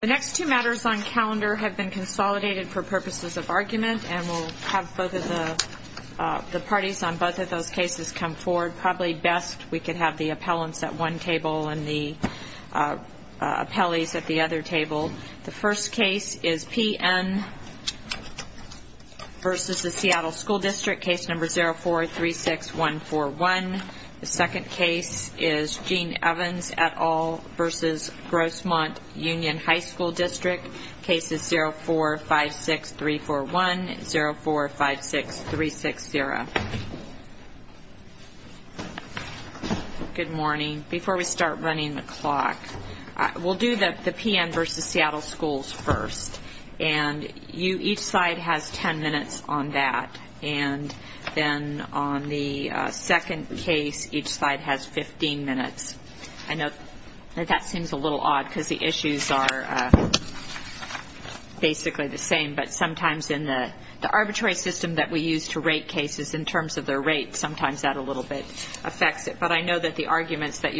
The next two matters on calendar have been consolidated for purposes of argument, and we'll have the parties on both of those cases come forward. Probably best we could have the appellants at one table and the appellees at the other table. The first case is PN v. Seattle School District, case number 0436141. The second case is Gene Evans et al. v. Grossmont Union High School District, cases 04-56341 and 04-56360. Good morning. Before we start running the clock, we'll do the PN v. Seattle Schools first. And each side has 10 minutes on that, and then on the second case, each side has 15 minutes. I know that that seems a little odd because the issues are basically the same, but sometimes in the arbitrary system that we use to rate cases in terms of their rate, sometimes that a little bit affects it. But I know that the arguments that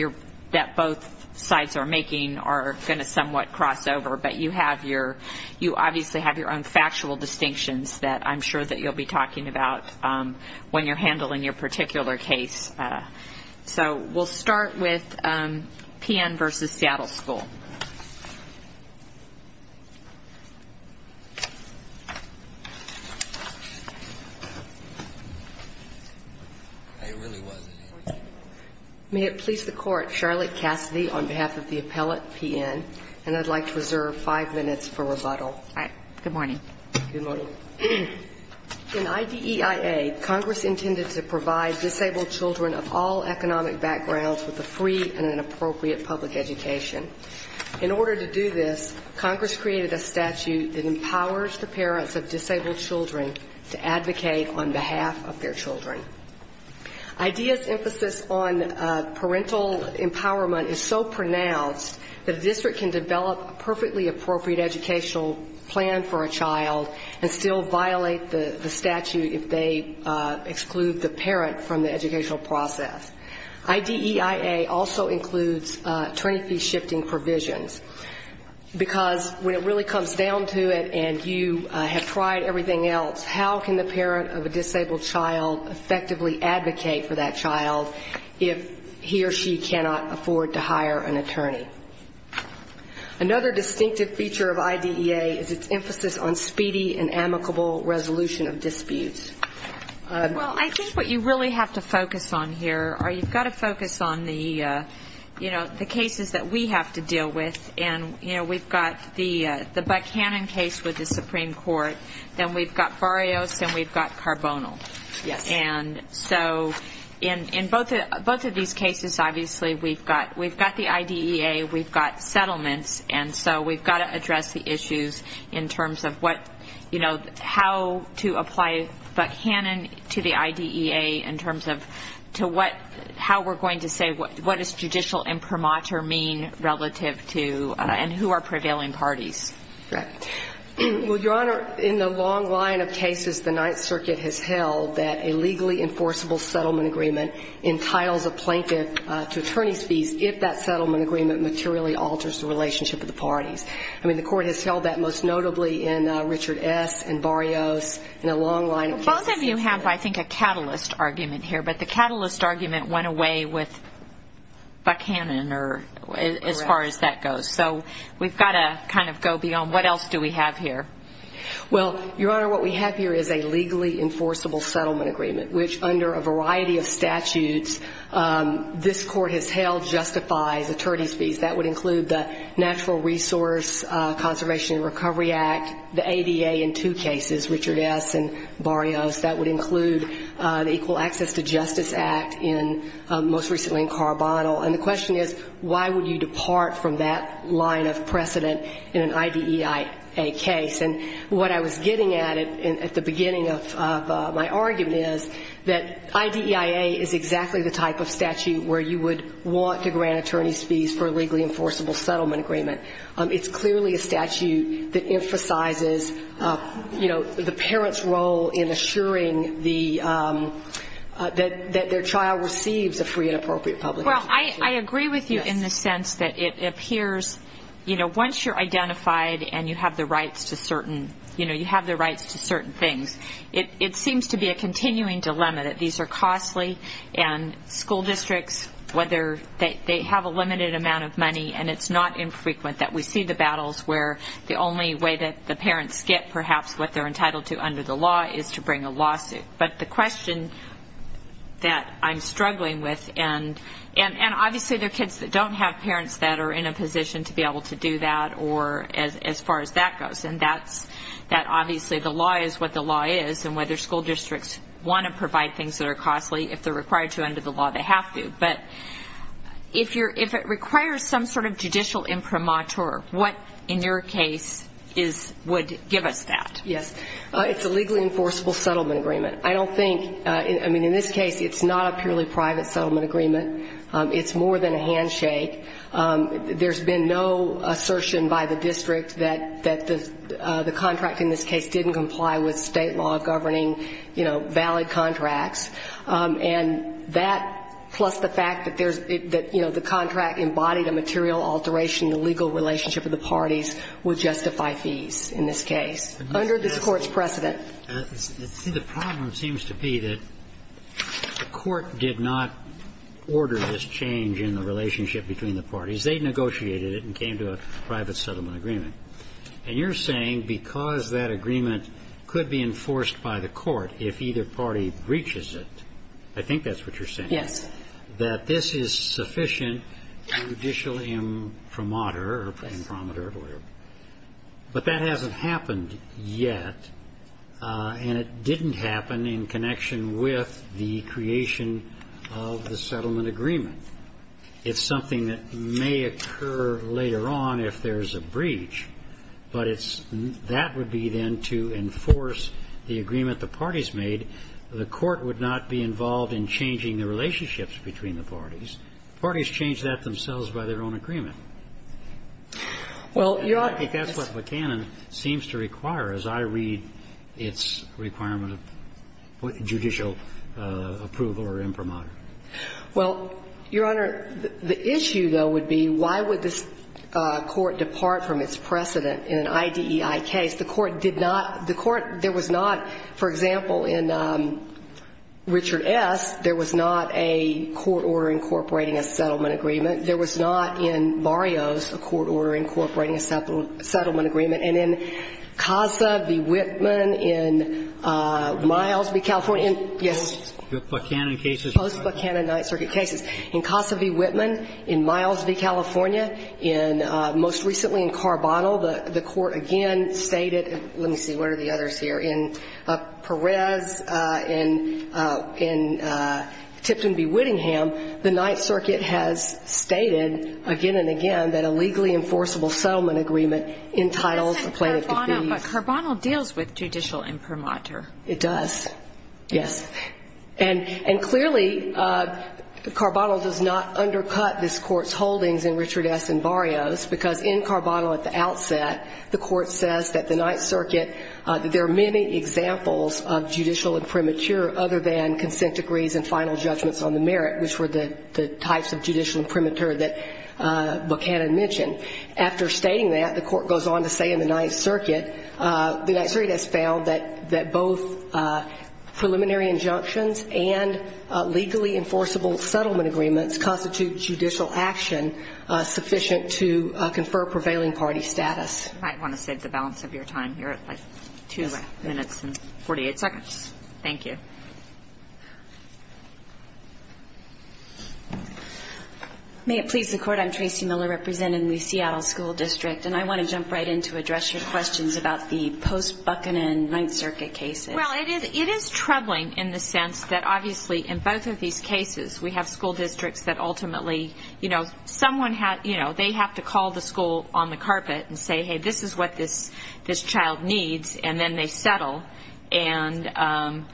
both sides are making are going to somewhat cross over, but you obviously have your own factual distinctions that I'm sure that you'll be talking about when you're handling your particular case. So we'll start with PN v. Seattle School. May it please the Court, Charlotte Cassidy on behalf of the appellate, PN, and I'd like to reserve five minutes for rebuttal. All right. Good morning. Good morning. In IDEIA, Congress intended to provide disabled children of all economic backgrounds with a free and an appropriate public education. In order to do this, Congress created a statute that empowers the parents of disabled children to advocate on behalf of their children. IDEIA's emphasis on parental empowerment is so pronounced that a district can develop a perfectly appropriate educational plan for a child and still violate the statute if they exclude the parent from the educational process. IDEIA also includes attorney fee shifting provisions, because when it really comes down to it and you have tried everything else, how can the parent of a disabled child effectively advocate for that child if he or she cannot afford to hire an attorney? Another distinctive feature of IDEIA is its emphasis on speedy and amicable resolution of disputes. Well, I think what you really have to focus on here are you've got to focus on the, you know, the cases that we have to deal with. And, you know, we've got the Buckhannon case with the Supreme Court, then we've got Barrios, then we've got Carbonyl. Yes. And so in both of these cases, obviously, we've got the IDEA, we've got settlements, and so we've got to address the issues in terms of what, you know, how to apply Buckhannon to the IDEA in terms of to what, how we're going to say what does judicial imprimatur mean relative to and who are prevailing parties. Correct. Well, Your Honor, in the long line of cases the Ninth Circuit has held that a legally enforceable settlement agreement entitles a plaintiff to attorney's fees if that settlement agreement materially alters the relationship of the parties. I mean, the Court has held that most notably in Richard S. and Barrios in a long line of cases. Both of you have, I think, a catalyst argument here, but the catalyst argument went away with Buckhannon as far as that goes. So we've got to kind of go beyond what else do we have here. Well, Your Honor, what we have here is a legally enforceable settlement agreement, which under a variety of statutes this Court has held justifies attorney's fees. That would include the Natural Resource Conservation and Recovery Act, the ADA in two cases, Richard S. and Barrios. That would include the Equal Access to Justice Act, most recently in Carbondel. And the question is, why would you depart from that line of precedent in an IDEIA case? And what I was getting at at the beginning of my argument is that IDEIA is exactly the type of statute where you would want to grant attorney's fees for a legally enforceable settlement agreement. It's clearly a statute that emphasizes, you know, the parent's role in assuring that their child receives a free and appropriate public education. Well, I agree with you in the sense that it appears, you know, once you're identified and you have the rights to certain, you know, you have the rights to certain things, it seems to be a continuing dilemma that these are costly, and school districts, whether they have a limited amount of money, and it's not infrequent that we see the battles where the only way that the parents get perhaps what they're entitled to under the law is to bring a lawsuit. But the question that I'm struggling with, and obviously there are kids that don't have parents that are in a position to be able to do that or as far as that goes, and that's that obviously the law is what the law is, and whether school districts want to provide things that are costly, if they're required to under the law, they have to. But if it requires some sort of judicial imprimatur, what, in your case, would give us that? Yes, it's a legally enforceable settlement agreement. I don't think, I mean, in this case, it's not a purely private settlement agreement. It's more than a handshake. There's been no assertion by the district that the contract in this case didn't comply with State law governing, you know, valid contracts. And that, plus the fact that there's, you know, the contract embodied a material alteration in the legal relationship of the parties, would justify fees in this case under this Court's precedent. But the problem seems to be that the Court did not order this change in the relationship between the parties. They negotiated it and came to a private settlement agreement. And you're saying because that agreement could be enforced by the Court if either party breaches it, I think that's what you're saying. Yes. That this is sufficient judicial imprimatur or imprimatur of order. But that hasn't happened yet. And it didn't happen in connection with the creation of the settlement agreement. It's something that may occur later on if there's a breach. But it's that would be then to enforce the agreement the parties made. The Court would not be involved in changing the relationships between the parties. Parties change that themselves by their own agreement. Well, Your Honor. I think that's what Buchanan seems to require, as I read its requirement of judicial approval or imprimatur. Well, Your Honor, the issue, though, would be why would this Court depart from its precedent in an IDEI case? The Court did not the Court there was not, for example, in Richard S., there was not a court order incorporating a settlement agreement. There was not in Barrios a court order incorporating a settlement agreement. And in Casa v. Whitman, in Miles v. California, yes. The Buchanan cases. The post-Buchanan Ninth Circuit cases. In Casa v. Whitman, in Miles v. California, in most recently in Carbonyl, the Court again stated, let me see, where are the others here, in Perez, in Tipton v. Whittingham, the Ninth Circuit has stated again and again that a legally enforceable settlement agreement entitles a plaintiff to fees. But Carbonyl deals with judicial imprimatur. It does. Yes. And clearly, Carbonyl does not undercut this Court's holdings in Richard S. and Barrios, because in Carbonyl at the outset, the Court says that the Ninth Circuit, that there are many examples of judicial imprimatur other than consent degrees and final judgments on the merit, which were the types of judicial imprimatur that Buchanan mentioned. After stating that, the Court goes on to say in the Ninth Circuit, the Ninth Circuit has found that both preliminary injunctions and legally enforceable settlement agreements constitute judicial action sufficient to confer prevailing party status. I want to save the balance of your time here at, like, 2 minutes and 48 seconds. Thank you. May it please the Court? I'm Tracy Miller, representing the Seattle School District. And I want to jump right in to address your questions about the post-Buchanan Ninth Circuit cases. Well, it is troubling in the sense that, obviously, in both of these cases, we have school districts that ultimately, you know, someone had, you know, they have to call the school on the carpet and say, hey, this is what this child needs, and then they settle. And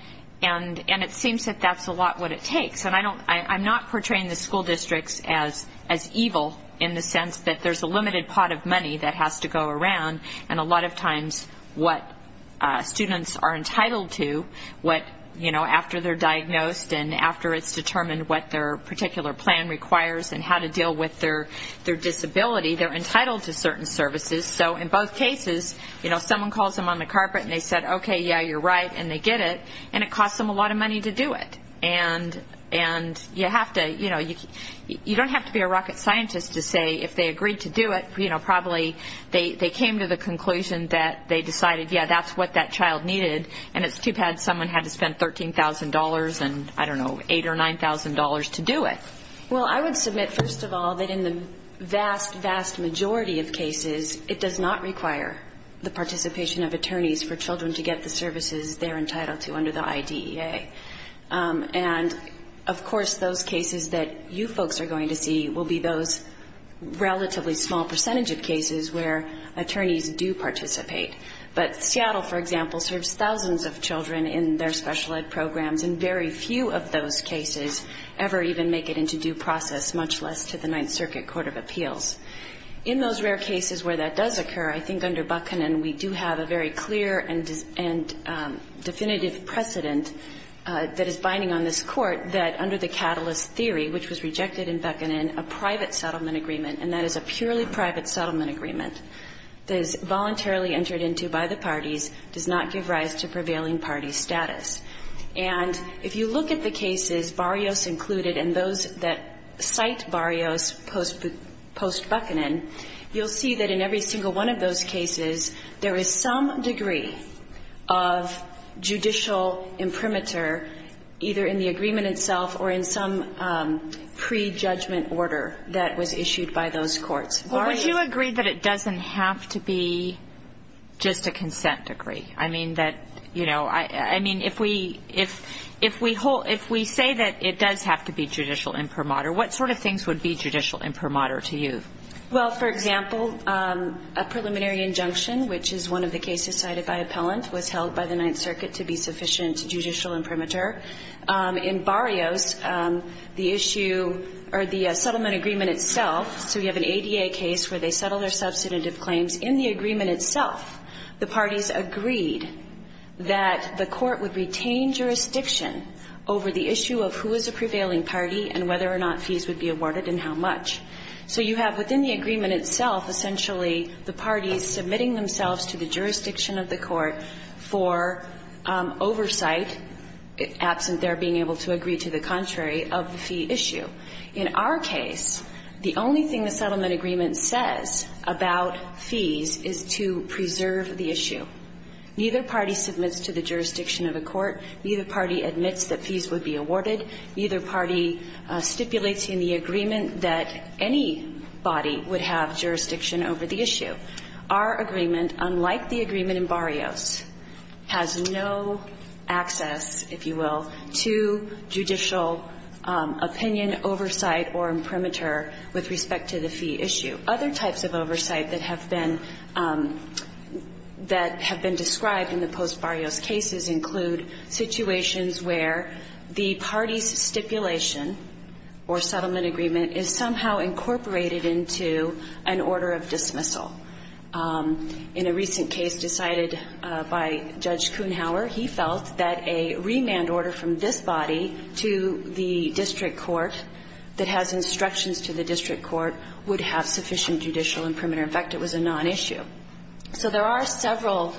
it seems that that's a lot what it takes. And I'm not portraying the school districts as evil in the sense that there's a limited pot of money that has to go around. And a lot of times what students are entitled to, what, you know, after they're diagnosed and after it's determined what their particular plan requires and how to deal with their disability, they're entitled to certain services. So in both cases, you know, someone calls them on the carpet and they said, okay, yeah, you're right, and they get it. And it costs them a lot of money to do it. And you have to, you know, you don't have to be a rocket scientist to say, if they agreed to do it, you know, probably they came to the conclusion that they decided, yeah, that's what that child needed. And it's too bad someone had to spend $13,000 and, I don't know, $8,000 or $9,000 to do it. Well, I would submit, first of all, that in the vast, vast majority of cases, it does not require the participation of attorneys for children to get the services they're entitled to under the IDEA. And, of course, those cases that you folks are going to see will be those relatively small percentage of cases where attorneys do participate. But Seattle, for example, serves thousands of children in their special ed programs, and very few of those cases ever even make it into due process, much less to the Ninth Circuit Court of Appeals. In those rare cases where that does occur, I think under Buchanan, we do have a very clear and definitive precedent that is binding on this Court that under the catalyst theory, which was rejected in Buchanan, a private settlement agreement, and that is a purely private settlement agreement that is voluntarily entered into by the parties, does not give rise to prevailing party status. And if you look at the cases, Barrios included, and those that cite Barrios post-Buchanan, you'll see that in every single one of those cases, there is some degree of judicial imprimatur either in the agreement itself or in some prejudgment order that was issued by those courts. Well, would you agree that it doesn't have to be just a consent degree? I mean, that, you know, I mean, if we say that it does have to be judicial imprimatur, what sort of things would be judicial imprimatur to you? Well, for example, a preliminary injunction, which is one of the cases cited by appellant, was held by the Ninth Circuit to be sufficient judicial imprimatur. In Barrios, the issue or the settlement agreement itself, so you have an ADA case where they settle their substantive claims. In the agreement itself, the parties agreed that the court would retain jurisdiction over the issue of who is a prevailing party and whether or not fees would be awarded and how much. So you have within the agreement itself essentially the parties submitting themselves to the jurisdiction of the court for oversight, absent their being able to agree to the contrary of the fee issue. In our case, the only thing the settlement agreement says about fees is to preserve the issue. Neither party submits to the jurisdiction of the court. Neither party admits that fees would be awarded. Neither party stipulates in the agreement that any body would have jurisdiction over the issue. Our agreement, unlike the agreement in Barrios, has no access, if you will, to judicial opinion, oversight, or imprimatur with respect to the fee issue. Other types of oversight that have been described in the post-Barrios cases include situations where the party's stipulation or settlement agreement is somehow incorporated into an order of dismissal. In a recent case decided by Judge Kuhnhauer, he felt that a remand order from this body to the district court that has instructions to the district court would have sufficient judicial imprimatur. In fact, it was a nonissue. So there are several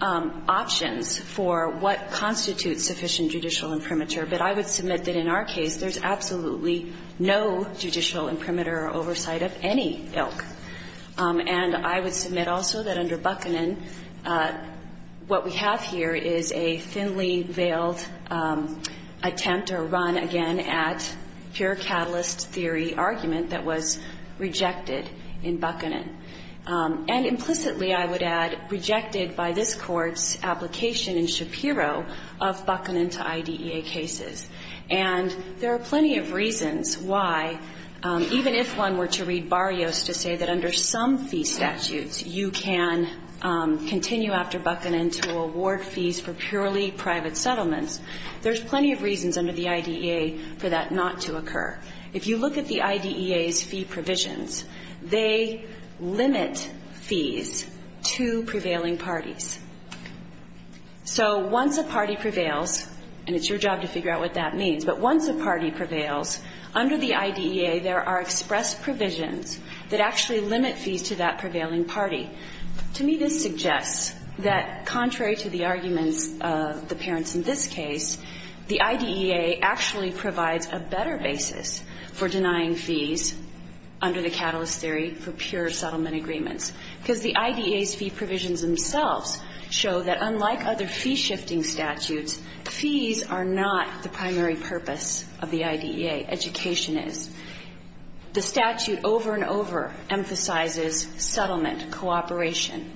options for what constitutes sufficient judicial imprimatur, but I would submit that in our case there's absolutely no judicial imprimatur or oversight of any ilk. And I would submit also that under Buchanan, what we have here is a thinly veiled attempt or run, again, at pure catalyst theory argument that was rejected in Buchanan. And implicitly, I would add, rejected by this Court's application in Shapiro of Buchanan to IDEA cases. And there are plenty of reasons why, even if one were to read Barrios to say that under some fee statutes you can continue after Buchanan to award fees for purely private settlements, there's plenty of reasons under the IDEA for that not to occur. If you look at the IDEA's fee provisions, they limit fees to prevailing parties. So once a party prevails, and it's your job to figure out what that means, but once a party prevails, under the IDEA, there are express provisions that actually limit fees to that prevailing party. To me, this suggests that, contrary to the arguments of the parents in this case, the IDEA actually provides a better basis for denying fees under the catalyst theory for pure settlement agreements, because the IDEA's fee provisions themselves show that, unlike other fee-shifting statutes, fees are not the primary purpose of the IDEA. Education is. The statute over and over emphasizes settlement, cooperation.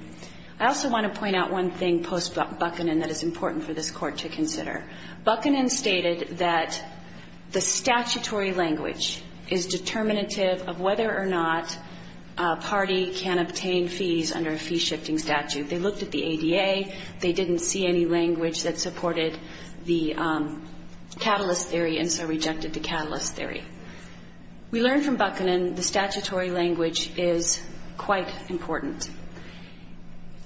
I also want to point out one thing post-Buchanan that is important for this Court to consider. Buchanan stated that the statutory language is determinative of whether or not a party can obtain fees under a fee-shifting statute. They looked at the ADA. They didn't see any language that supported the catalyst theory, and so rejected the catalyst theory. We learned from Buchanan the statutory language is quite important.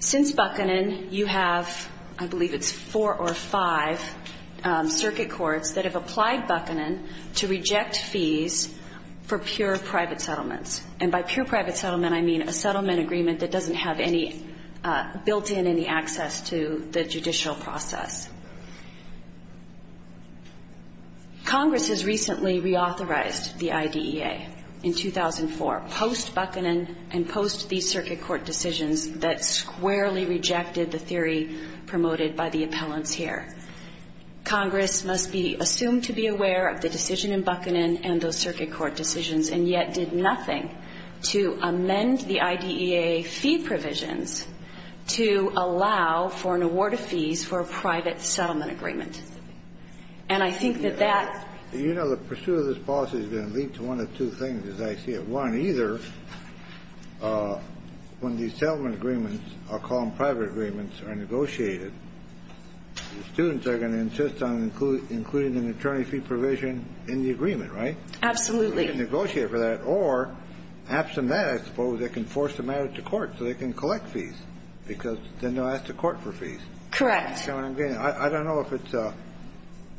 Since Buchanan, you have, I believe it's four or five circuit courts that have applied Buchanan to reject fees for pure private settlements. And by pure private settlement, I mean a settlement agreement that doesn't have any built-in, any access to the judicial process. Congress has recently reauthorized the IDEA in 2004, post-Buchanan and post-these circuit court decisions that squarely rejected the theory promoted by the appellants here. Congress must be assumed to be aware of the decision in Buchanan and those circuit court decisions, and yet did nothing to amend the IDEA fee provisions to allow for an award of fees for a private settlement agreement. And I think that that ---- You know, the pursuit of this policy is going to lead to one of two things, as I see it. One, either when these settlement agreements are called private agreements are negotiated, the students are going to insist on including an attorney fee provision in the agreement, right? Absolutely. Negotiate for that. Or, absent that, I suppose they can force them out of the court so they can collect fees, because then they'll ask the court for fees. Correct. I don't know if it's a ----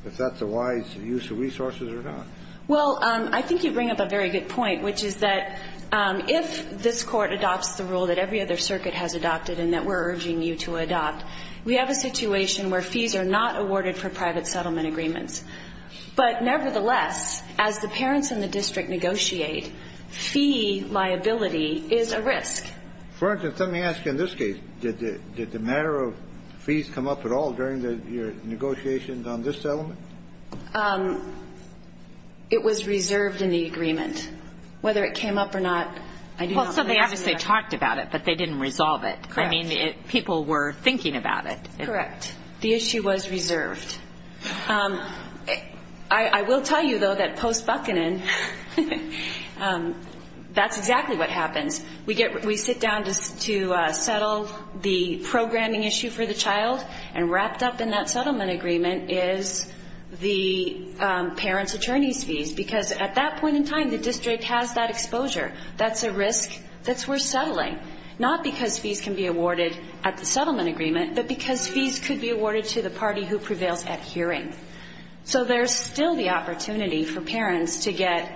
if that's a wise use of resources or not. Well, I think you bring up a very good point, which is that if this Court adopts the rule that every other circuit has adopted and that we're urging you to adopt, we have a situation where fees are not awarded for private settlement agreements. But nevertheless, as the parents in the district negotiate, fee liability is a risk. For instance, let me ask you in this case, did the matter of fees come up at all during the negotiations on this settlement? It was reserved in the agreement. Whether it came up or not, I do not know the answer to that. Well, so they obviously talked about it, but they didn't resolve it. Correct. I mean, people were thinking about it. Correct. The issue was reserved. I will tell you, though, that post-Buckanen, that's exactly what happens. We sit down to settle the programming issue for the child, and wrapped up in that settlement agreement is the parent's attorney's fees, because at that point in time, the district has that exposure. That's a risk that's worth settling, not because fees can be awarded at the settlement agreement, but because fees could be awarded to the party who prevails at hearing. So there's still the opportunity for parents to get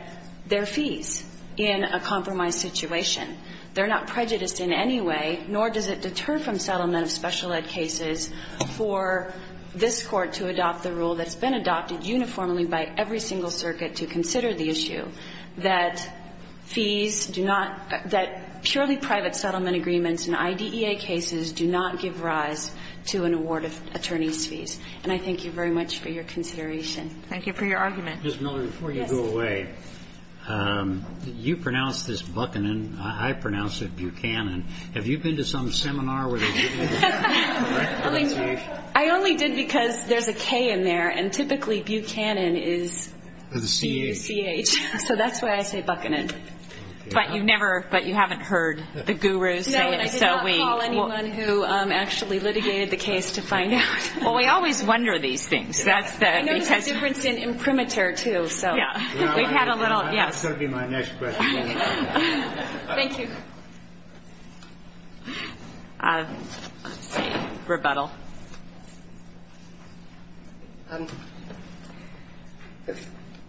their fees in a compromised situation. They're not prejudiced in any way, nor does it deter from settlement of special ed cases for this Court to adopt the rule that's been adopted uniformly by every single circuit to consider the issue, that fees do not – that purely private settlement agreements and IDEA cases do not give rise to an award of attorney's fees. Thank you very much for your consideration. Thank you for your argument. Ms. Miller, before you go away, you pronounced this Buckanen. I pronounce it Buchanan. Have you been to some seminar where they give you the correct pronunciation? I only did because there's a K in there, and typically Buchanan is C-U-C-H. So that's why I say Buckanen. But you've never – but you haven't heard the gurus say it. No, and I did not call anyone who actually litigated the case to find out. Well, we always wonder these things. I noticed a difference in imprimatur, too. So we've had a little – yes. That's going to be my next question. Thank you. Let's see. Rebuttal.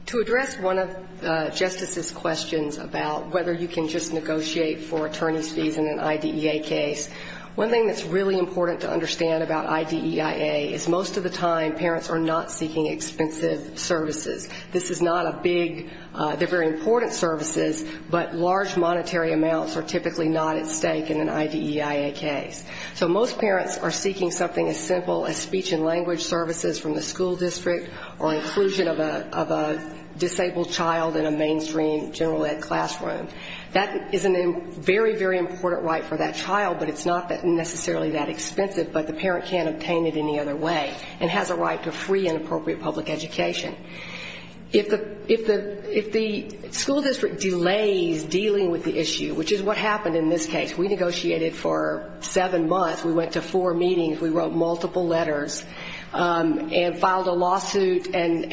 To address one of Justice's questions about whether you can just negotiate for I-D-E-I-A is most of the time parents are not seeking expensive services. This is not a big – they're very important services, but large monetary amounts are typically not at stake in an I-D-E-I-A case. So most parents are seeking something as simple as speech and language services from the school district or inclusion of a disabled child in a mainstream general ed classroom. That is a very, very important right for that child, but it's not necessarily that expensive. But the parent can't obtain it any other way and has a right to free and appropriate public education. If the school district delays dealing with the issue, which is what happened in this case, we negotiated for seven months, we went to four meetings, we wrote multiple letters and filed a lawsuit, and,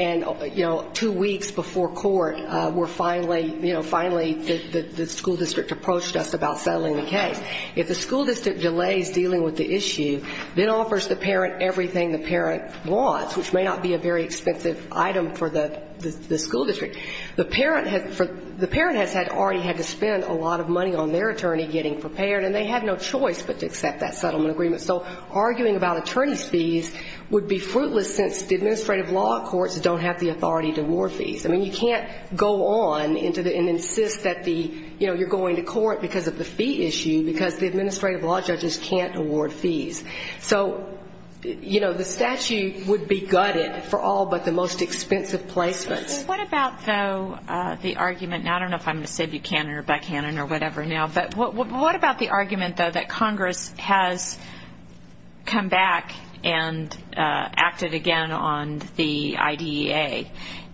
you know, two weeks before court, we're finally – you know, finally the school district approached us about settling the case. If the school district delays dealing with the issue, then offers the parent everything the parent wants, which may not be a very expensive item for the school district. The parent has already had to spend a lot of money on their attorney getting prepared, and they have no choice but to accept that settlement agreement. So arguing about attorney's fees would be fruitless since the administrative law courts don't have the authority to award fees. I mean, you can't go on and insist that the, you know, you're going to do something because the administrative law judges can't award fees. So, you know, the statute would be gutted for all but the most expensive placements. What about, though, the argument – I don't know if I'm going to say Buchanan or Buchanan or whatever now, but what about the argument, though, that Congress has come back and acted again on the IDEA,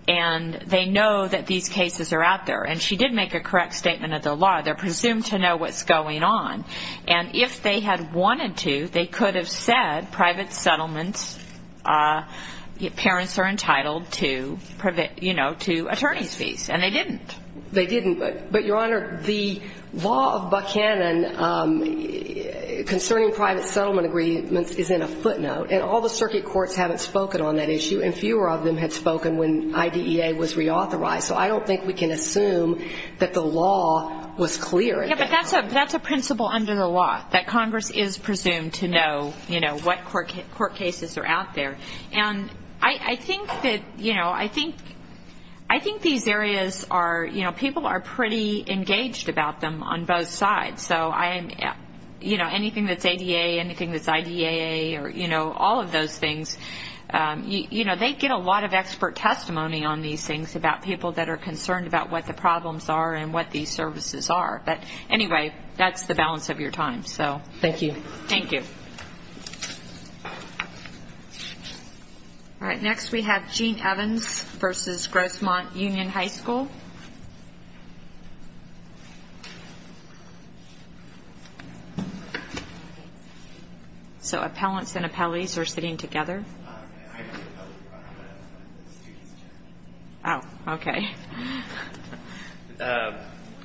and they know that these cases are out there, and she did make a correct statement of the law. They're presumed to know what's going on. And if they had wanted to, they could have said private settlements, parents are entitled to, you know, to attorney's fees, and they didn't. They didn't, but, Your Honor, the law of Buchanan concerning private settlement agreements is in a footnote, and all the circuit courts haven't spoken on that issue, and fewer of them had spoken when IDEA was reauthorized. So I don't think we can assume that the law was clear at that time. Yeah, but that's a principle under the law, that Congress is presumed to know, you know, what court cases are out there. And I think that, you know, I think these areas are, you know, people are pretty engaged about them on both sides. So, you know, anything that's ADA, anything that's IDEA or, you know, all of those things, you know, they get a lot of expert testimony on these things about people that are concerned about what the problems are and what these services are. But, anyway, that's the balance of your time, so. Thank you. All right, next we have Gene Evans versus Grossmont Union High School. So appellants and appellees are sitting together. Oh, okay.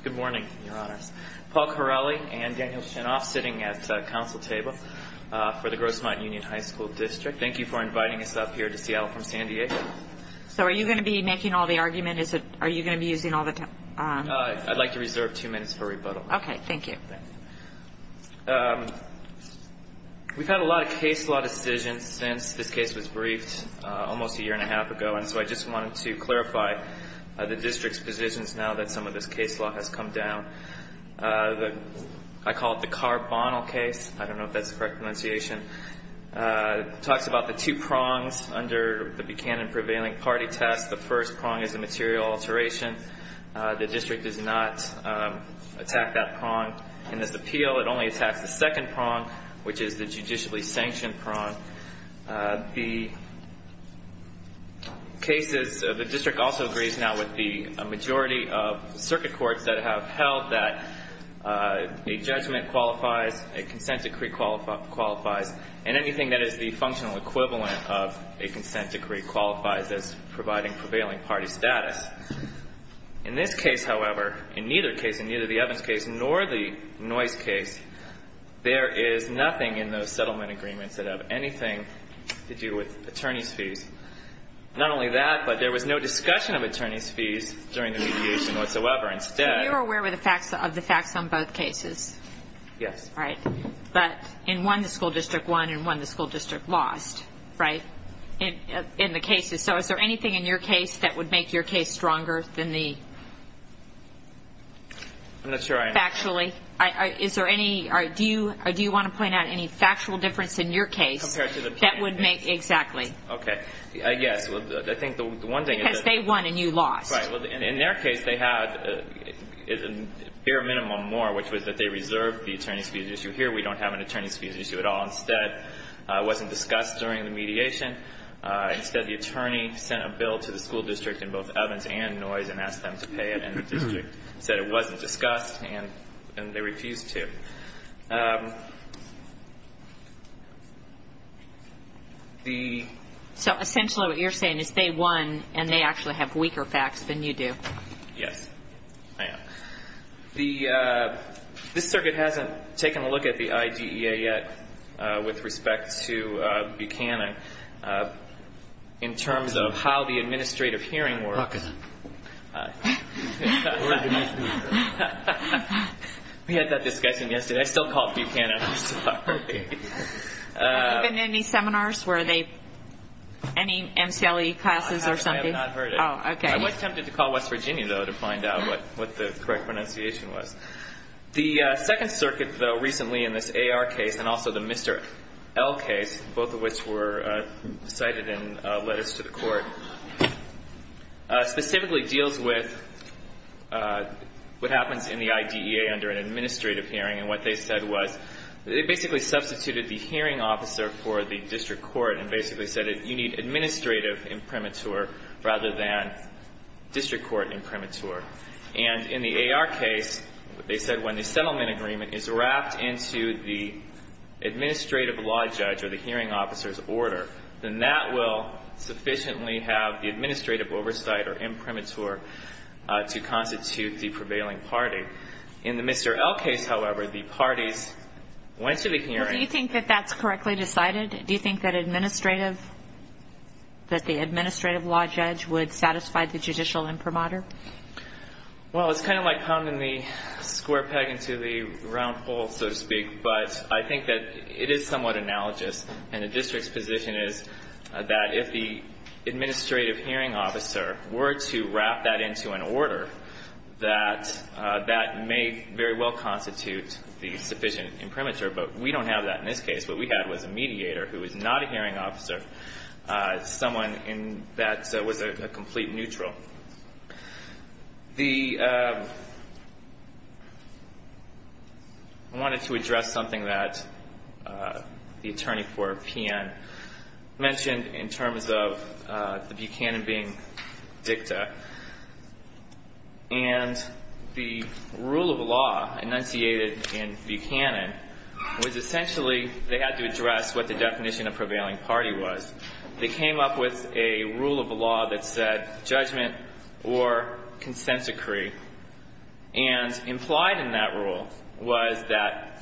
Good morning, Your Honors. Paul Corelli and Daniel Shinoff sitting at the council table for the Grossmont Union High School District. Thank you for inviting us up here to Seattle from San Diego. So are you going to be making all the arguments? Are you going to be using all the time? I'd like to reserve two minutes for rebuttal. Okay, thank you. We've had a lot of case law decisions since this case was briefed almost a year and a half ago, and so I just wanted to clarify the district's positions now that some of this case law has come down. I call it the carbonyl case. I don't know if that's the correct pronunciation. It talks about the two prongs under the Buchanan prevailing party test. In this appeal, it only attacks the second prong, which is the judicially sanctioned prong. The district also agrees now with the majority of circuit courts that have held that a judgment qualifies, a consent decree qualifies, and anything that is the functional equivalent of a consent decree qualifies as providing prevailing party status. In this case, however, in neither case, in neither the Evans case nor the Noyce case, there is nothing in those settlement agreements that have anything to do with attorney's fees. Not only that, but there was no discussion of attorney's fees during the mediation whatsoever. You're aware of the facts on both cases? Yes. But in one, the school district won, and in one, the school district lost, right, in the cases. So is there anything in your case that would make your case stronger than the... I'm not sure I understand. Do you want to point out any factual difference in your case that would make... Exactly. Okay. Yes, well, I think the one thing is that... Because they won and you lost. Right. Well, in their case, they had a bare minimum more, which was that they reserved the attorney's fees issue here. So essentially what you're saying is they won and they actually have weaker facts than you do. Yes, I am. This circuit hasn't taken a look at the IDEA yet with respect to Buchanan in terms of how the administrative hearing works. We had that discussion yesterday. I still call it Buchanan, I'm sorry. Have there been any seminars? Any MCLE classes or something? I have not heard it. I was tempted to call West Virginia, though, to find out what the correct pronunciation was. The Second Circuit, though, recently in this AR case and also the Mr. L case, both of which were cited in letters to the court, specifically deals with what happens in the IDEA under an administrative hearing. And what they said was they basically substituted the hearing officer for the district court and basically said you need administrative imprimatur rather than district court imprimatur. And in the AR case, they said when the settlement agreement is wrapped into the administrative law judge or the hearing officer's order, then that will sufficiently have the administrative oversight or imprimatur to constitute the prevailing party. In the Mr. L case, however, the parties went to the hearing. Do you think that that's correctly decided? Do you think that the administrative law judge would satisfy the judicial imprimatur? Well, it's kind of like pounding the square peg into the round hole, so to speak, but I think that it is somewhat analogous. And the district's position is that if the administrative hearing officer were to wrap that into an order, that that may very well constitute the sufficient imprimatur. But we don't have that in this case. What we had was a mediator who was not a hearing officer, someone that was a complete neutral. I wanted to address something that the attorney for PN mentioned in terms of the Buchanan being dicta. And the rule of law enunciated in Buchanan was essentially they had to address what the definition of prevailing party was. They came up with a rule of law that said judgment or consent decree. And implied in that rule was that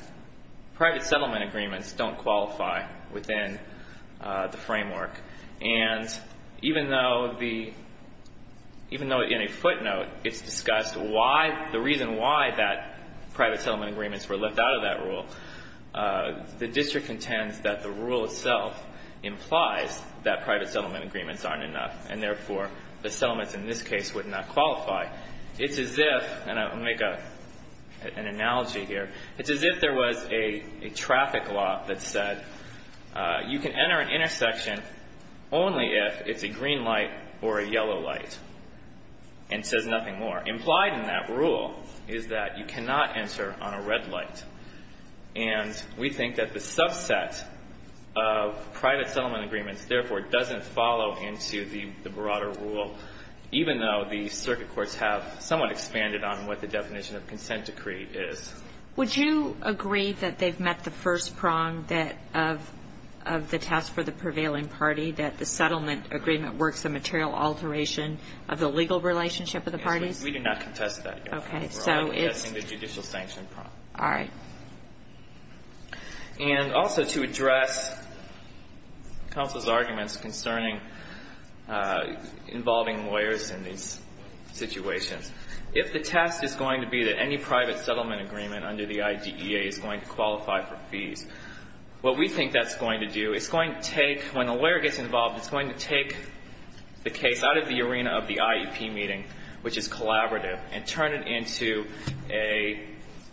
private settlement agreements don't qualify within the framework. And even though in a footnote it's discussed the reason why that private settlement agreements were left out of that rule, the district contends that the rule itself implies that private settlement agreements aren't enough and, therefore, the settlements in this case would not qualify. It's as if, and I'll make an analogy here, it's as if there was a traffic law that said you can enter an intersection only if it's a green light or a yellow light and says nothing more. Implied in that rule is that you cannot enter on a red light. And we think that the subset of private settlement agreements, therefore, doesn't follow into the broader rule, even though the circuit courts have somewhat expanded on what the definition of consent decree is. Would you agree that they've met the first prong that of the task for the prevailing party, that the settlement agreement works a material alteration of the legal relationship of the parties? Yes, we do not contest that, Your Honor. Okay. We're only contesting the judicial sanction prong. All right. And also to address counsel's arguments concerning involving lawyers in these situations, if the test is going to be that any private settlement agreement under the IDEA is going to qualify for fees, what we think that's going to do, it's going to take, when a lawyer gets involved, it's going to take the case out of the arena of the IEP meeting, which is collaborative, and turn it into a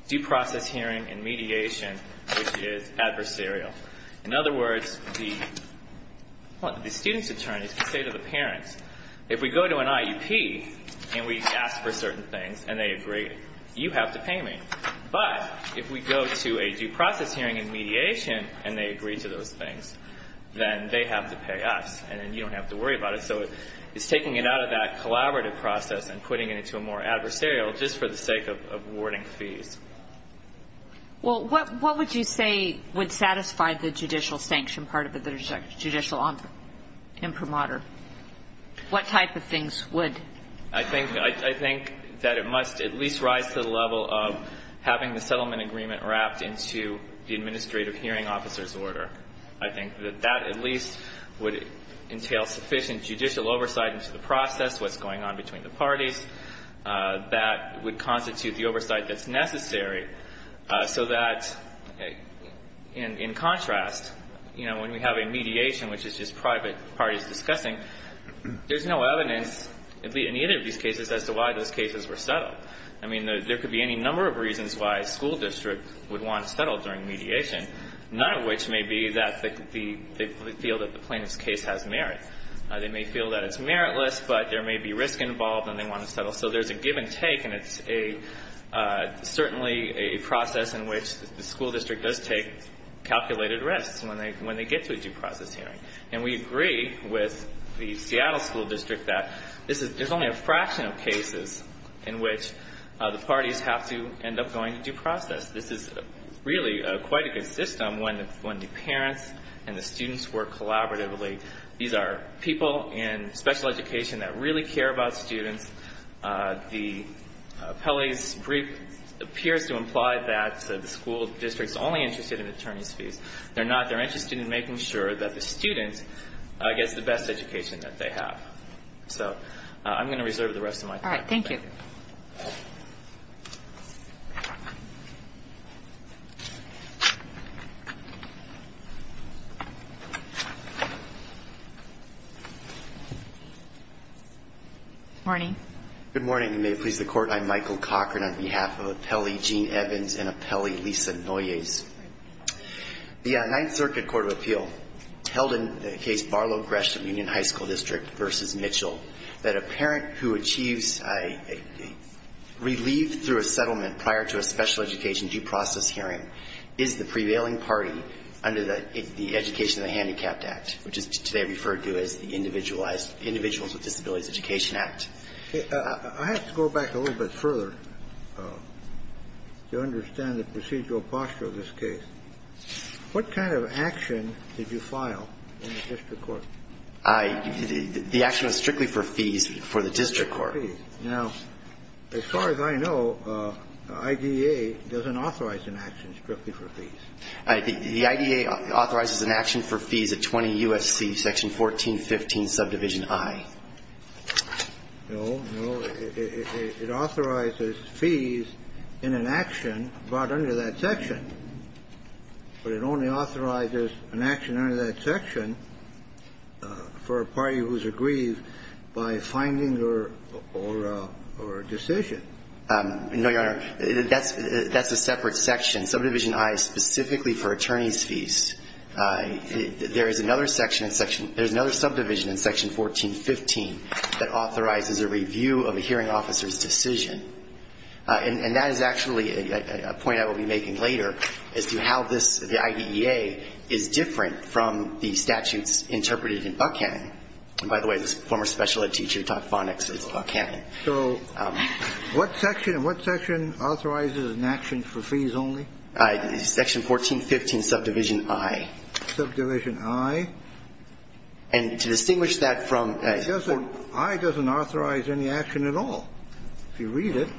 due process hearing and mediation, which is adversarial. In other words, the student's attorneys can say to the parents, if we go to an IEP and we ask for certain things and they agree, you have to pay me. But if we go to a due process hearing and mediation and they agree to those things, then they have to pay us, and then you don't have to worry about it. So it's taking it out of that collaborative process and putting it into a more adversarial just for the sake of awarding fees. Well, what would you say would satisfy the judicial sanction part of the judicial imprimatur? What type of things would? Having the settlement agreement wrapped into the administrative hearing officer's order. I think that that at least would entail sufficient judicial oversight into the process, what's going on between the parties. That would constitute the oversight that's necessary so that, in contrast, when we have a mediation, which is just private parties discussing, there's no evidence in either of these cases as to why those cases were settled. I mean, there could be any number of reasons why a school district would want to settle during mediation, none of which may be that they feel that the plaintiff's case has merit. They may feel that it's meritless, but there may be risk involved and they want to settle. So there's a give and take, and it's certainly a process in which the school district does take calculated risks when they get to a due process hearing. And we agree with the Seattle School District that this is, there's only a fraction of cases in which the parties have to end up going to due process. This is really quite a good system when the parents and the students work collaboratively. These are people in special education that really care about students. The appellee's brief appears to imply that the school district's only interested in attorney's fees. They're not, they're interested in making sure that the student gets the best education that they have. So I'm going to reserve the rest of my time. Good morning. Good morning, and may it please the Court, I'm Michael Cochran on behalf of Appellee Gene Evans and Appellee Lisa Noyes. The Ninth Circuit Court of Appeal held in the case Barlow-Gresham Union High School District v. Mitchell that a parent who achieves relief through a settlement prior to a special education due process hearing is the prevailing party under the Education of the Handicapped Act, which is today referred to as the Individuals with Disabilities Education Act. I have to go back a little bit further to understand the procedural posture of this case. What kind of action did you file in the district court? The action was strictly for fees for the district court. Now, as far as I know, IDEA doesn't authorize an action strictly for fees. The IDEA authorizes an action for fees at 20 U.S.C. Section 1415, Subdivision I. No, no, it authorizes fees in an action brought under that section, but it only authorizes an action under that section for a party who is aggrieved by a finding or a decision. No, Your Honor, that's a separate section. Subdivision I is specifically for attorneys' fees. There is another subdivision in Section 1415 that authorizes a review of a hearing officer's decision. And that is actually a point I will be making later as to how the IDEA is different from the statutes interpreted in Buckhannon. And by the way, this former special ed teacher who taught phonics is Buckhannon. So what section authorizes an action for fees only? Section 1415, Subdivision I. Subdivision I? And to distinguish that from the court. I doesn't authorize any action at all. If you read it,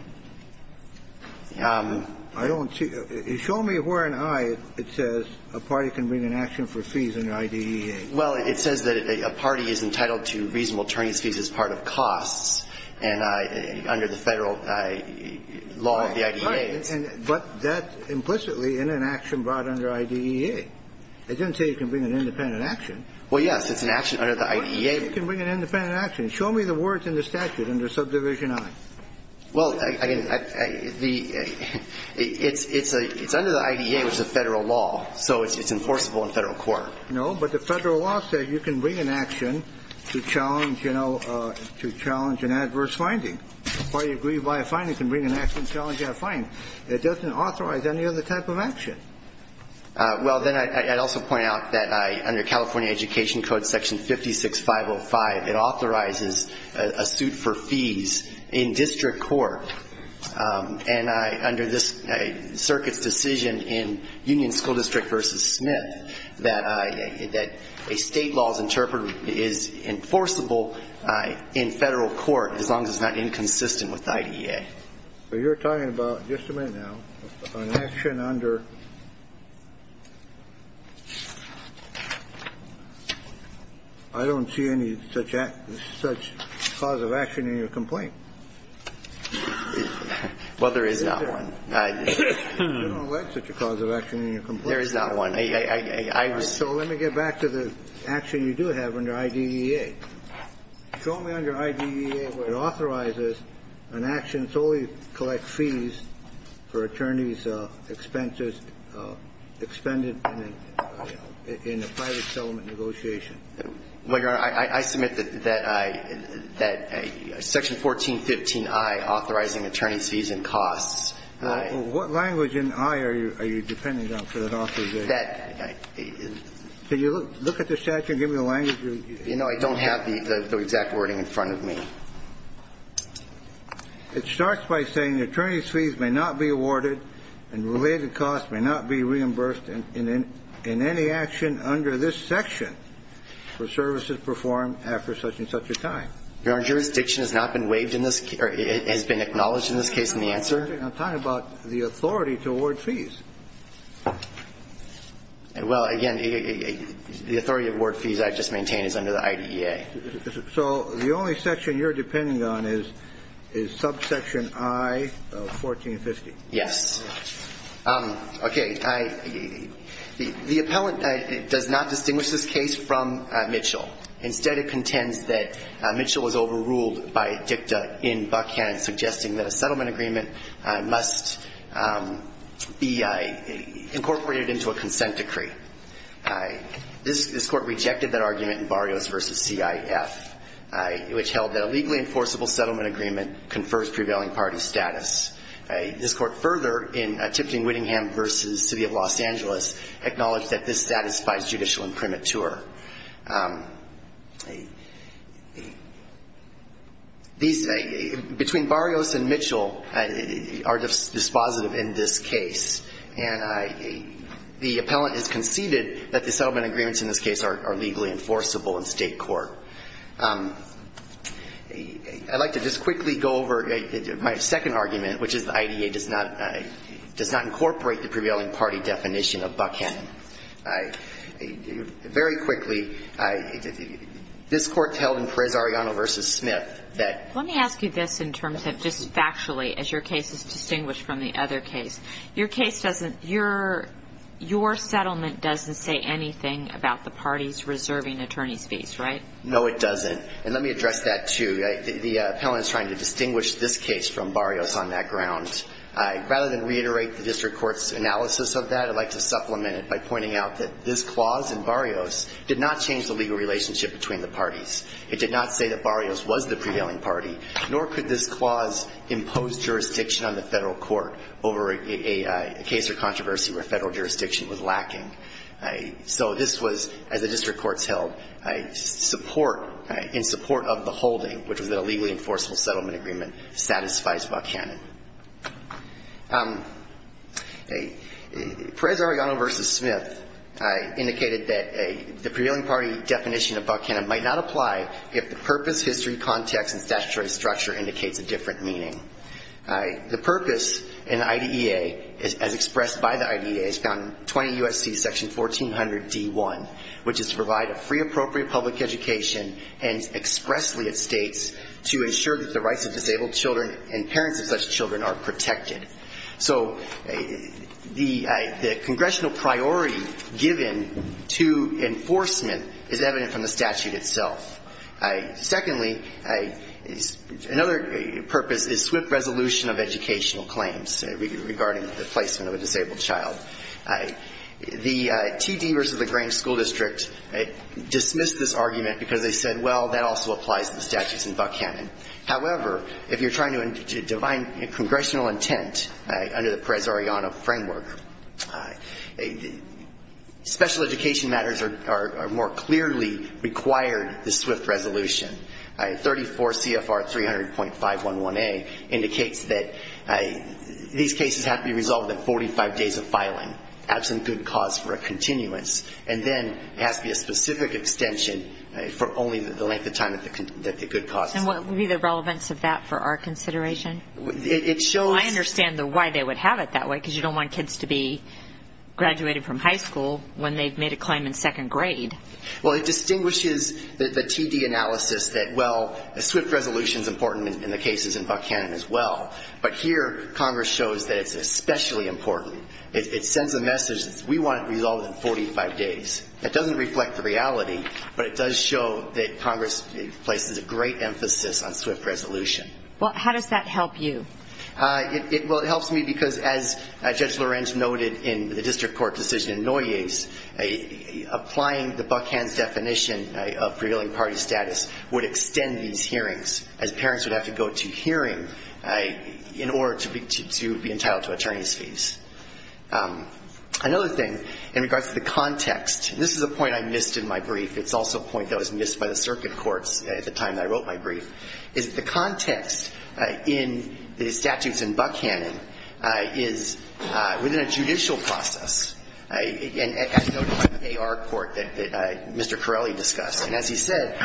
I don't see. Show me where in I it says a party can bring an action for fees under IDEA. Well, it says that a party is entitled to reasonable attorney's fees as part of costs and under the Federal law of the IDEA. But that implicitly in an action brought under IDEA. It doesn't say you can bring an independent action. Well, yes, it's an action under the IDEA. You can bring an independent action. Show me the words in the statute under Subdivision I. Well, it's under the IDEA, which is a Federal law, so it's enforceable in Federal court. No, but the Federal law says you can bring an action to challenge, you know, to challenge an adverse finding. A party aggrieved by a finding can bring an action to challenge that finding. It doesn't authorize any other type of action. Well, then I'd also point out that under California Education Code, Section 56505, it authorizes a suit for fees in district court. And under this circuit's decision in Union School District v. Smith, that a State law is enforceable in Federal court as long as it's not inconsistent with IDEA. So you're talking about, just a minute now, an action under ---- I don't see any such cause of action in your complaint. Well, there is not one. You don't have such a cause of action in your complaint. There is not one. So let me get back to the action you do have under IDEA. Show me under IDEA where it authorizes an action solely to collect fees for attorneys' expenses expended in a private settlement negotiation. Well, Your Honor, I submit that Section 1415i, authorizing attorney's fees and costs. Well, what language in i are you depending on for that authorization? That ---- You know, I don't have the exact wording in front of me. It starts by saying attorney's fees may not be awarded and related costs may not be reimbursed in any action under this section for services performed after such and such a time. Your Honor, jurisdiction has not been waived in this case or has been acknowledged in this case in the answer? I'm talking about the authority to award fees. Well, again, the authority to award fees I've just maintained is under the IDEA. So the only section you're depending on is subsection i of 1450? Yes. Okay. The appellant does not distinguish this case from Mitchell. Instead, it contends that Mitchell was overruled by a dicta in Buckhand, suggesting that a settlement agreement must be incorporated into a consent decree. This court rejected that argument in Barrios v. CIF, which held that a legally enforceable settlement agreement confers prevailing party status. This court further, in Tipton-Whittingham v. City of Los Angeles, acknowledged that this satisfies judicial imprimatur. These ---- between Barrios and Mitchell are dispositive in this case. And the appellant has conceded that the settlement agreements in this case are legally enforceable in state court. I'd like to just quickly go over my second argument, which is the IDEA does not incorporate the prevailing party definition of Buckhand. Very quickly, this court held in Perez-Arellano v. Smith that ---- Let me ask you this in terms of just factually, as your case is distinguished from the other case. Your case doesn't ---- your settlement doesn't say anything about the parties reserving attorney's fees, right? No, it doesn't. And let me address that, too. The appellant is trying to distinguish this case from Barrios on that ground. Rather than reiterate the district court's analysis of that, I'd like to supplement it by pointing out that this clause in Barrios did not change the legal relationship between the parties. It did not say that Barrios was the prevailing party, nor could this clause impose jurisdiction on the federal court over a case or controversy where federal jurisdiction was lacking. So this was, as the district courts held, in support of the holding, which was that a legally enforceable settlement agreement satisfies Buckhannon. Perez-Arellano v. Smith indicated that the prevailing party definition of Buckhannon might not apply if the purpose, history, context, and statutory structure indicates a different meaning. The purpose in IDEA, as expressed by the IDEA, is found in 20 U.S.C. section 1400 D.1, which is to provide a free, appropriate public education, and expressly, it states, to ensure that the rights of disabled children and parents of such children are protected. So the congressional priority given to enforcement is evident from the statute itself. Secondly, another purpose is swift resolution of educational claims regarding the placement of a disabled child. The T.D. v. the Grange School District dismissed this argument because they said, well, that also applies to the statutes in Buckhannon. However, if you're trying to define congressional intent under the Perez-Arellano framework, special education matters are more clearly required the swift resolution of educational claims. 34 CFR 300.511A indicates that these cases have to be resolved in 45 days of filing, absent good cause for a continuance, and then it has to be a specific extension for only the length of time that the good cause is. And what would be the relevance of that for our consideration? I understand why they would have it that way, because you don't want kids to be graduated from high school when they've made a claim in second grade. Well, it distinguishes the T.D. analysis that, well, a swift resolution is important in the cases in Buckhannon as well. But here, Congress shows that it's especially important. It sends a message that we want it resolved in 45 days. It doesn't reflect the reality, but it does show that Congress places a great emphasis on swift resolution. Well, how does that help you? Well, it helps me because, as Judge Lorenz noted in the district court decision in Noyes, applying the Buckhannon definition of prevailing party status would extend these hearings, as parents would have to go to hearing in order to be entitled to attorney's fees. Another thing, in regards to the context, and this is a point I missed in my brief, it's also a point that was missed by the circuit courts at the time that I wrote my brief, is that the context in the district court decision, the statutes in Buckhannon, is within a judicial process, as noted by the A.R. court that Mr. Corelli discussed. And as he said,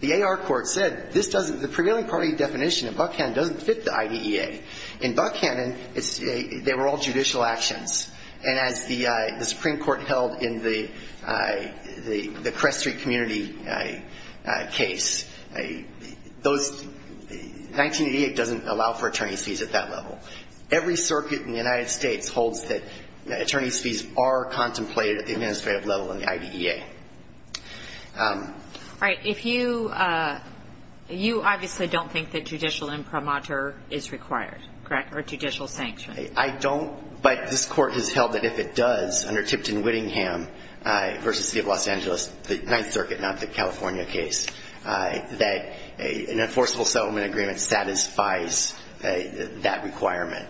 the A.R. court said, the prevailing party definition in Buckhannon doesn't fit the IDEA. In Buckhannon, they were all judicial actions. And as the Supreme Court held in the Crest Street community case, those 1988 doesn't fit the IDEA. It doesn't allow for attorney's fees at that level. Every circuit in the United States holds that attorney's fees are contemplated at the administrative level in the IDEA. All right. If you, you obviously don't think that judicial imprimatur is required, correct, or judicial sanction. I don't. But this court has held that if it does, under Tipton Whittingham v. City of Los Angeles, the Ninth Circuit, not the California case, that an enforceable settlement agreement satisfies that requirement.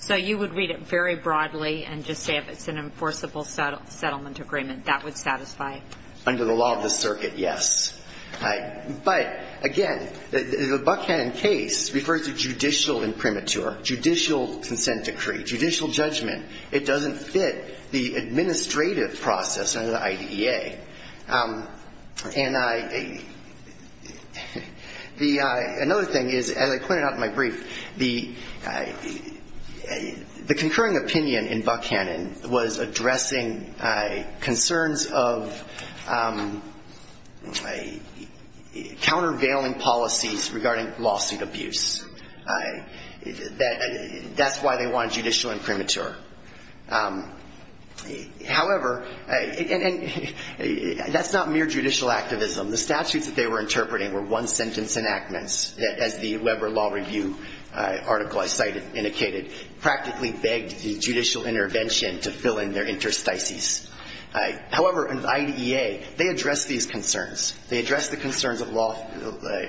So you would read it very broadly and just say if it's an enforceable settlement agreement, that would satisfy? Under the law of the circuit, yes. But, again, the Buckhannon case refers to judicial imprimatur, judicial consent decree, judicial judgment. It doesn't fit the administrative process under the IDEA. And I, the, another thing is, as I pointed out in my brief, the, the concurring opinion in Buckhannon was addressing concerns of, countervailing policies regarding lawsuit abuse. That's why they want judicial imprimatur. However, and that's not mere judicial activism. The statutes that they were interpreting were one-sentence enactments, as the Weber Law Review article I cited, indicated, practically begged the judicial intervention to fill in their interstices. However, in IDEA, they address these concerns. They address the concerns of law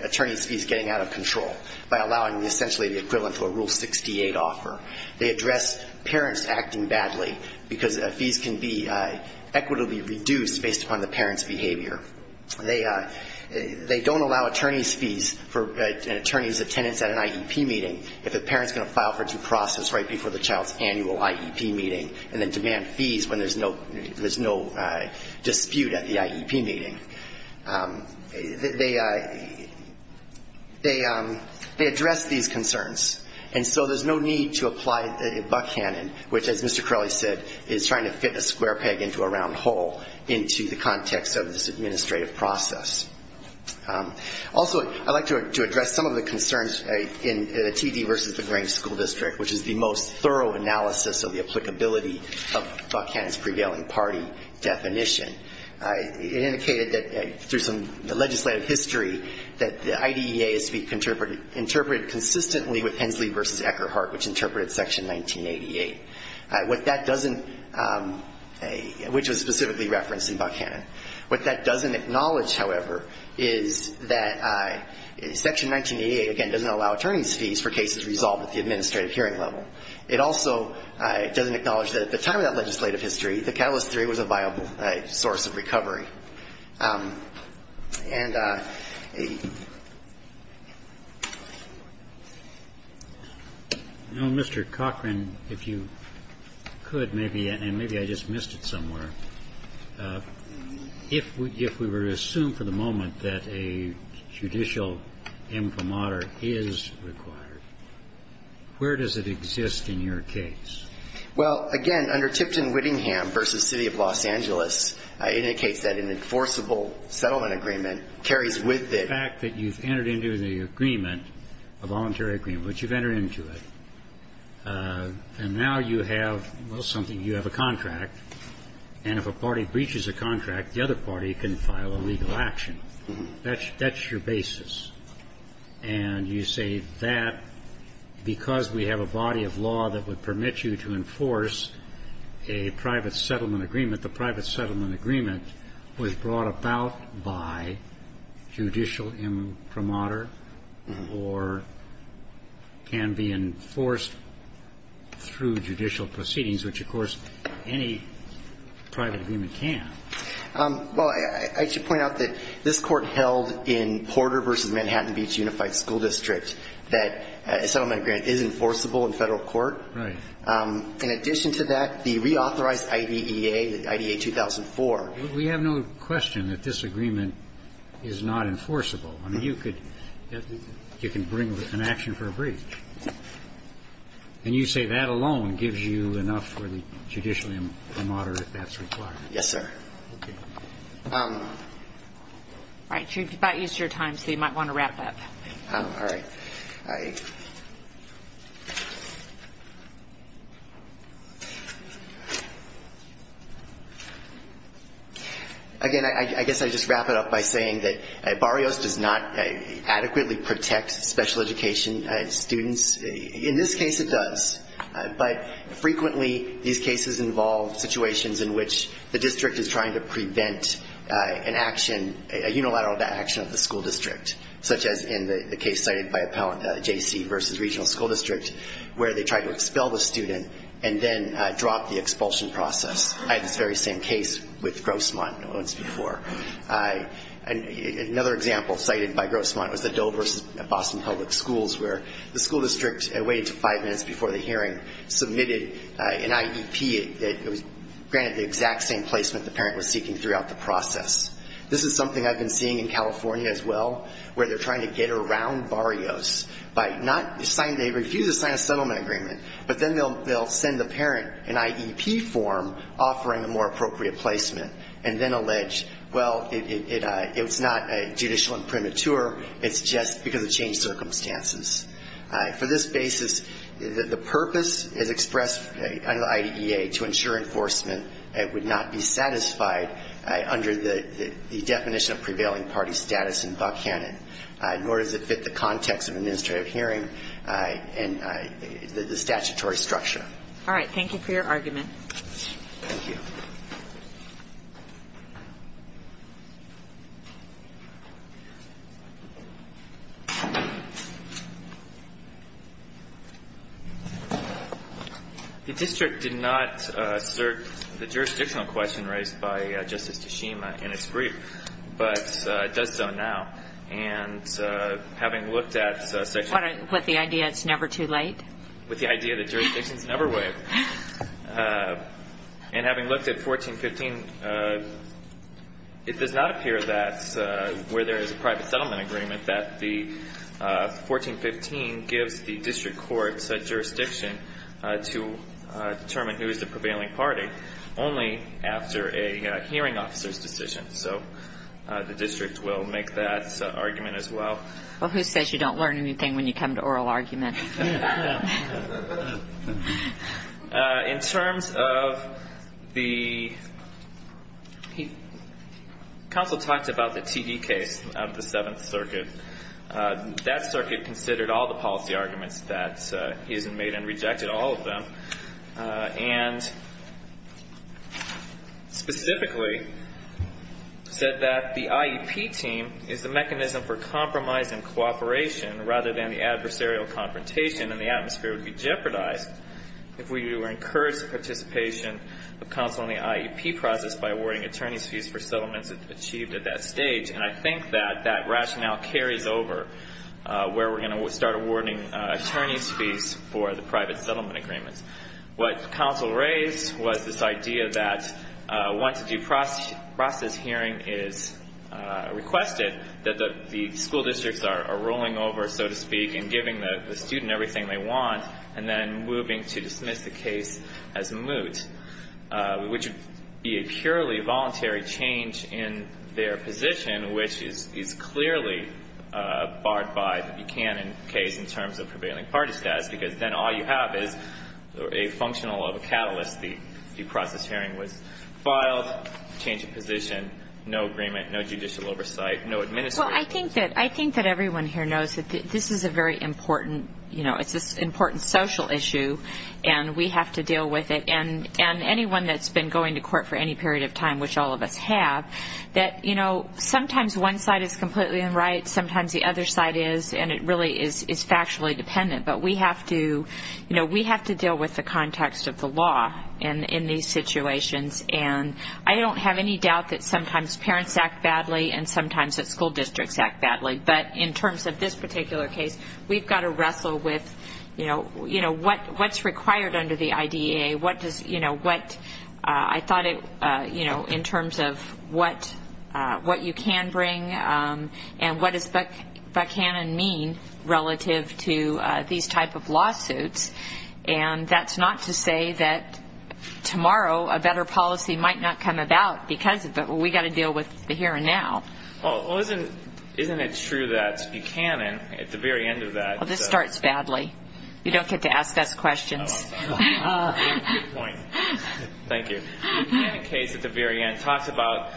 attorneys' fees getting out of control by allowing essentially the equivalent of a Rule 68 offer. They address parents acting badly, because fees can be equitably reduced based upon the parent's behavior. They, they don't allow attorneys' fees for an attorney's attendance at an IEP meeting if the parent's going to file for due process right before the child's annual IEP meeting, and then demand fees when there's no, there's no dispute at the IEP meeting. They, they address these concerns. And so there's no need to apply Buckhannon, which, as Mr. Crowley said, is trying to fit a square peg into a round hole into the context of this administrative process. Also, I'd like to, to address some of the concerns in the TD versus the Grange School District, which is the most thorough analysis of the applicability of Buckhannon's prevailing party definition. It indicated that, through some legislative history, that the IDEA is to be interpreted, interpreted consistently with Hensley versus Eckerhart, which interpreted Section 1988. What that doesn't, which was specifically referenced in Buckhannon, what that doesn't mean is that the IDEA is to be interpreted consistently with Hensley versus Eckerhart, which interpreted consistently with Hensley versus Eckerhart. What that doesn't acknowledge, however, is that Section 1988, again, doesn't allow attorney's fees for cases resolved at the administrative hearing level. It also doesn't acknowledge that at the time of that legislative history, the catalyst theory was a viable source of recovery. And a ---- Roberts. No, Mr. Cochran, if you could, maybe, and maybe I just missed it somewhere. If we were to assume for the moment that a judicial imprimatur is required, where does it exist in your case? Well, again, under Tipton-Whittingham versus City of Los Angeles, it indicates that an enforceable settlement agreement carries with it. The fact that you've entered into the agreement, a voluntary agreement, which you've entered into it, and now you have, well, something. You have a contract, and if a party breaches a contract, the other party can file a legal action. That's your basis. And you say that because we have a body of law that would permit you to enforce a private settlement agreement, the private settlement agreement was brought about by judicial imprimatur or can be enforced through judicial proceedings, which, of course, any private agreement can. Well, I should point out that this Court held in Porter versus Manhattan Beach Unified School District that a settlement agreement is enforceable in Federal court. Right. In addition to that, the reauthorized IDEA, the IDEA-2004. We have no question that this agreement is not enforceable. I mean, you could ---- you can bring an action for a breach. And you say that alone gives you enough for the judicial imprimatur that that's required. Yes, sir. All right. You've about used your time, so you might want to wrap up. All right. Again, I guess I just wrap it up by saying that Barrios does not adequately protect special education students. In this case, it does. But frequently, these cases involve situations in which the district is trying to prevent an action, a unilateral action of the school district, such as in the case cited by Appellant J.C. versus Regional School District, where they tried to expel the student and then drop the expulsion process. I had this very same case with Grossmont once before. Another example cited by Grossmont was the Dover versus Boston Public Schools, where the school district waited until five minutes before the hearing, submitted an IEP that was granted the exact same placement the parent was seeking throughout the process. This is something I've been seeing in California as well, where they're trying to get around Barrios by not ---- they refuse to sign a settlement agreement, but then they'll send the parent an IEP form offering a more appropriate placement, and then allege, well, it's not judicial imprimatur, it's just because of changed circumstances. For this basis, the purpose is expressed under the IDEA to ensure enforcement would not be satisfied under the definition of prevailing party status in Buckhannon, nor does it fit the context of an administrative hearing and the statutory structure. All right. Thank you for your argument. The district did not assert the jurisdictional question raised by Justice Tashima in its brief, but it does so now. And having looked at section ---- With the idea it's never too late? With the idea that jurisdictions never wait. And having looked at 1415, it does not appear that where there is a private settlement agreement that the 1415 gives the district court such jurisdiction to determine who is the prevailing party, only after a hearing officer's decision. So the district will make that argument as well. Well, who says you don't learn anything when you come to oral argument? In terms of the ---- That circuit considered all the policy arguments that he has made and rejected, all of them, and specifically said that the IEP team is the mechanism for compromise and cooperation, rather than the adversarial confrontation and the atmosphere would be jeopardized if we were encouraged participation of counsel in the IEP process by awarding attorney's fees for settlements achieved at that stage. And I think that that rationale carries over where we're going to start awarding attorney's fees for the private settlement agreements. What counsel raised was this idea that once a due process hearing is requested, that the school districts are rolling over, so to speak, and giving the student everything they want, and then moving to dismiss the case as moot, which would be a purely voluntary change in their position, which is clearly barred by the Buchanan case in terms of prevailing party status, because then all you have is a functional of a catalyst. The due process hearing was filed, change of position, no agreement, no judicial oversight, no administration. Well, I think that everyone here knows that this is a very important, you know, it's an important social issue, and we have to deal with it. And anyone that's been going to court for any period of time, which all of us have, that, you know, sometimes one side is completely in right, sometimes the other side is, and it really is factually dependent. But we have to, you know, we have to deal with the context of the law in these situations. And I don't have any doubt that sometimes parents act badly and sometimes that school districts act badly. But in terms of this particular case, we've got to wrestle with, you know, what's required under the IDEA, what does, you know, what I thought it, you know, in terms of what you can bring and what does Buchanan mean relative to these type of lawsuits. And that's not to say that tomorrow a better policy might not come about because of it. But we've got to deal with the here and now. Well, isn't it true that Buchanan, at the very end of that... You don't get to ask us questions. Thank you. The Buchanan case at the very end talks about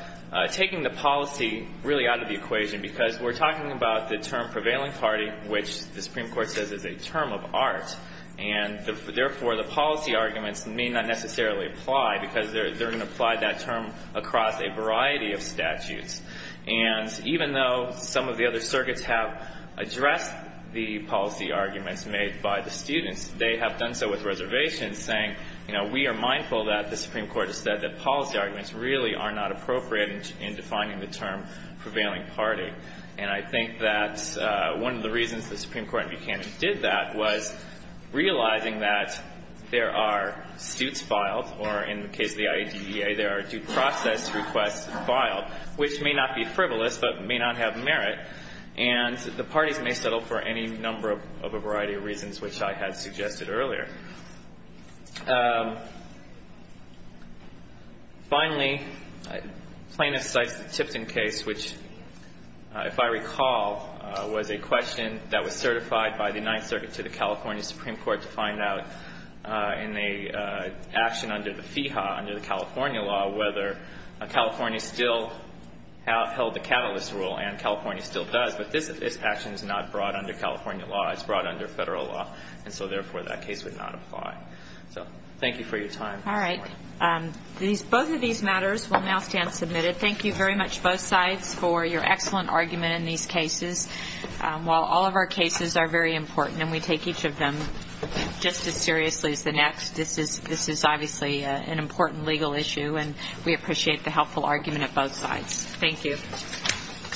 taking the policy really out of the equation because we're talking about the term prevailing party, which the Supreme Court says is a term of art. And therefore, the policy arguments may not necessarily apply because they're going to apply that term across a variety of statutes. And even though some of the other circuits have addressed the policy arguments made by the students, they have done so with reservations, saying, you know, we are mindful that the Supreme Court has said that policy arguments really are not appropriate in defining the term prevailing party. And I think that one of the reasons the Supreme Court in Buchanan did that was realizing that there are suits that the Supreme Court has filed, which may not be frivolous but may not have merit, and the parties may settle for any number of a variety of reasons, which I had suggested earlier. Finally, plaintiff cites the Tipton case, which, if I recall, was a question that was certified by the Ninth Circuit to the California Supreme Court to find out in the action under the FIHA, under the California law, whether a California student would be eligible for a patent. And California still held the catalyst rule, and California still does. But this action is not brought under California law. It's brought under Federal law. And so, therefore, that case would not apply. So thank you for your time. All right. Both of these matters will now stand submitted. Thank you very much, both sides, for your excellent argument in these cases. While all of our cases are very important, and we take each of them just as seriously as the next, this is obviously an important legal issue, and we appreciate the helpful argument of both sides. Thank you.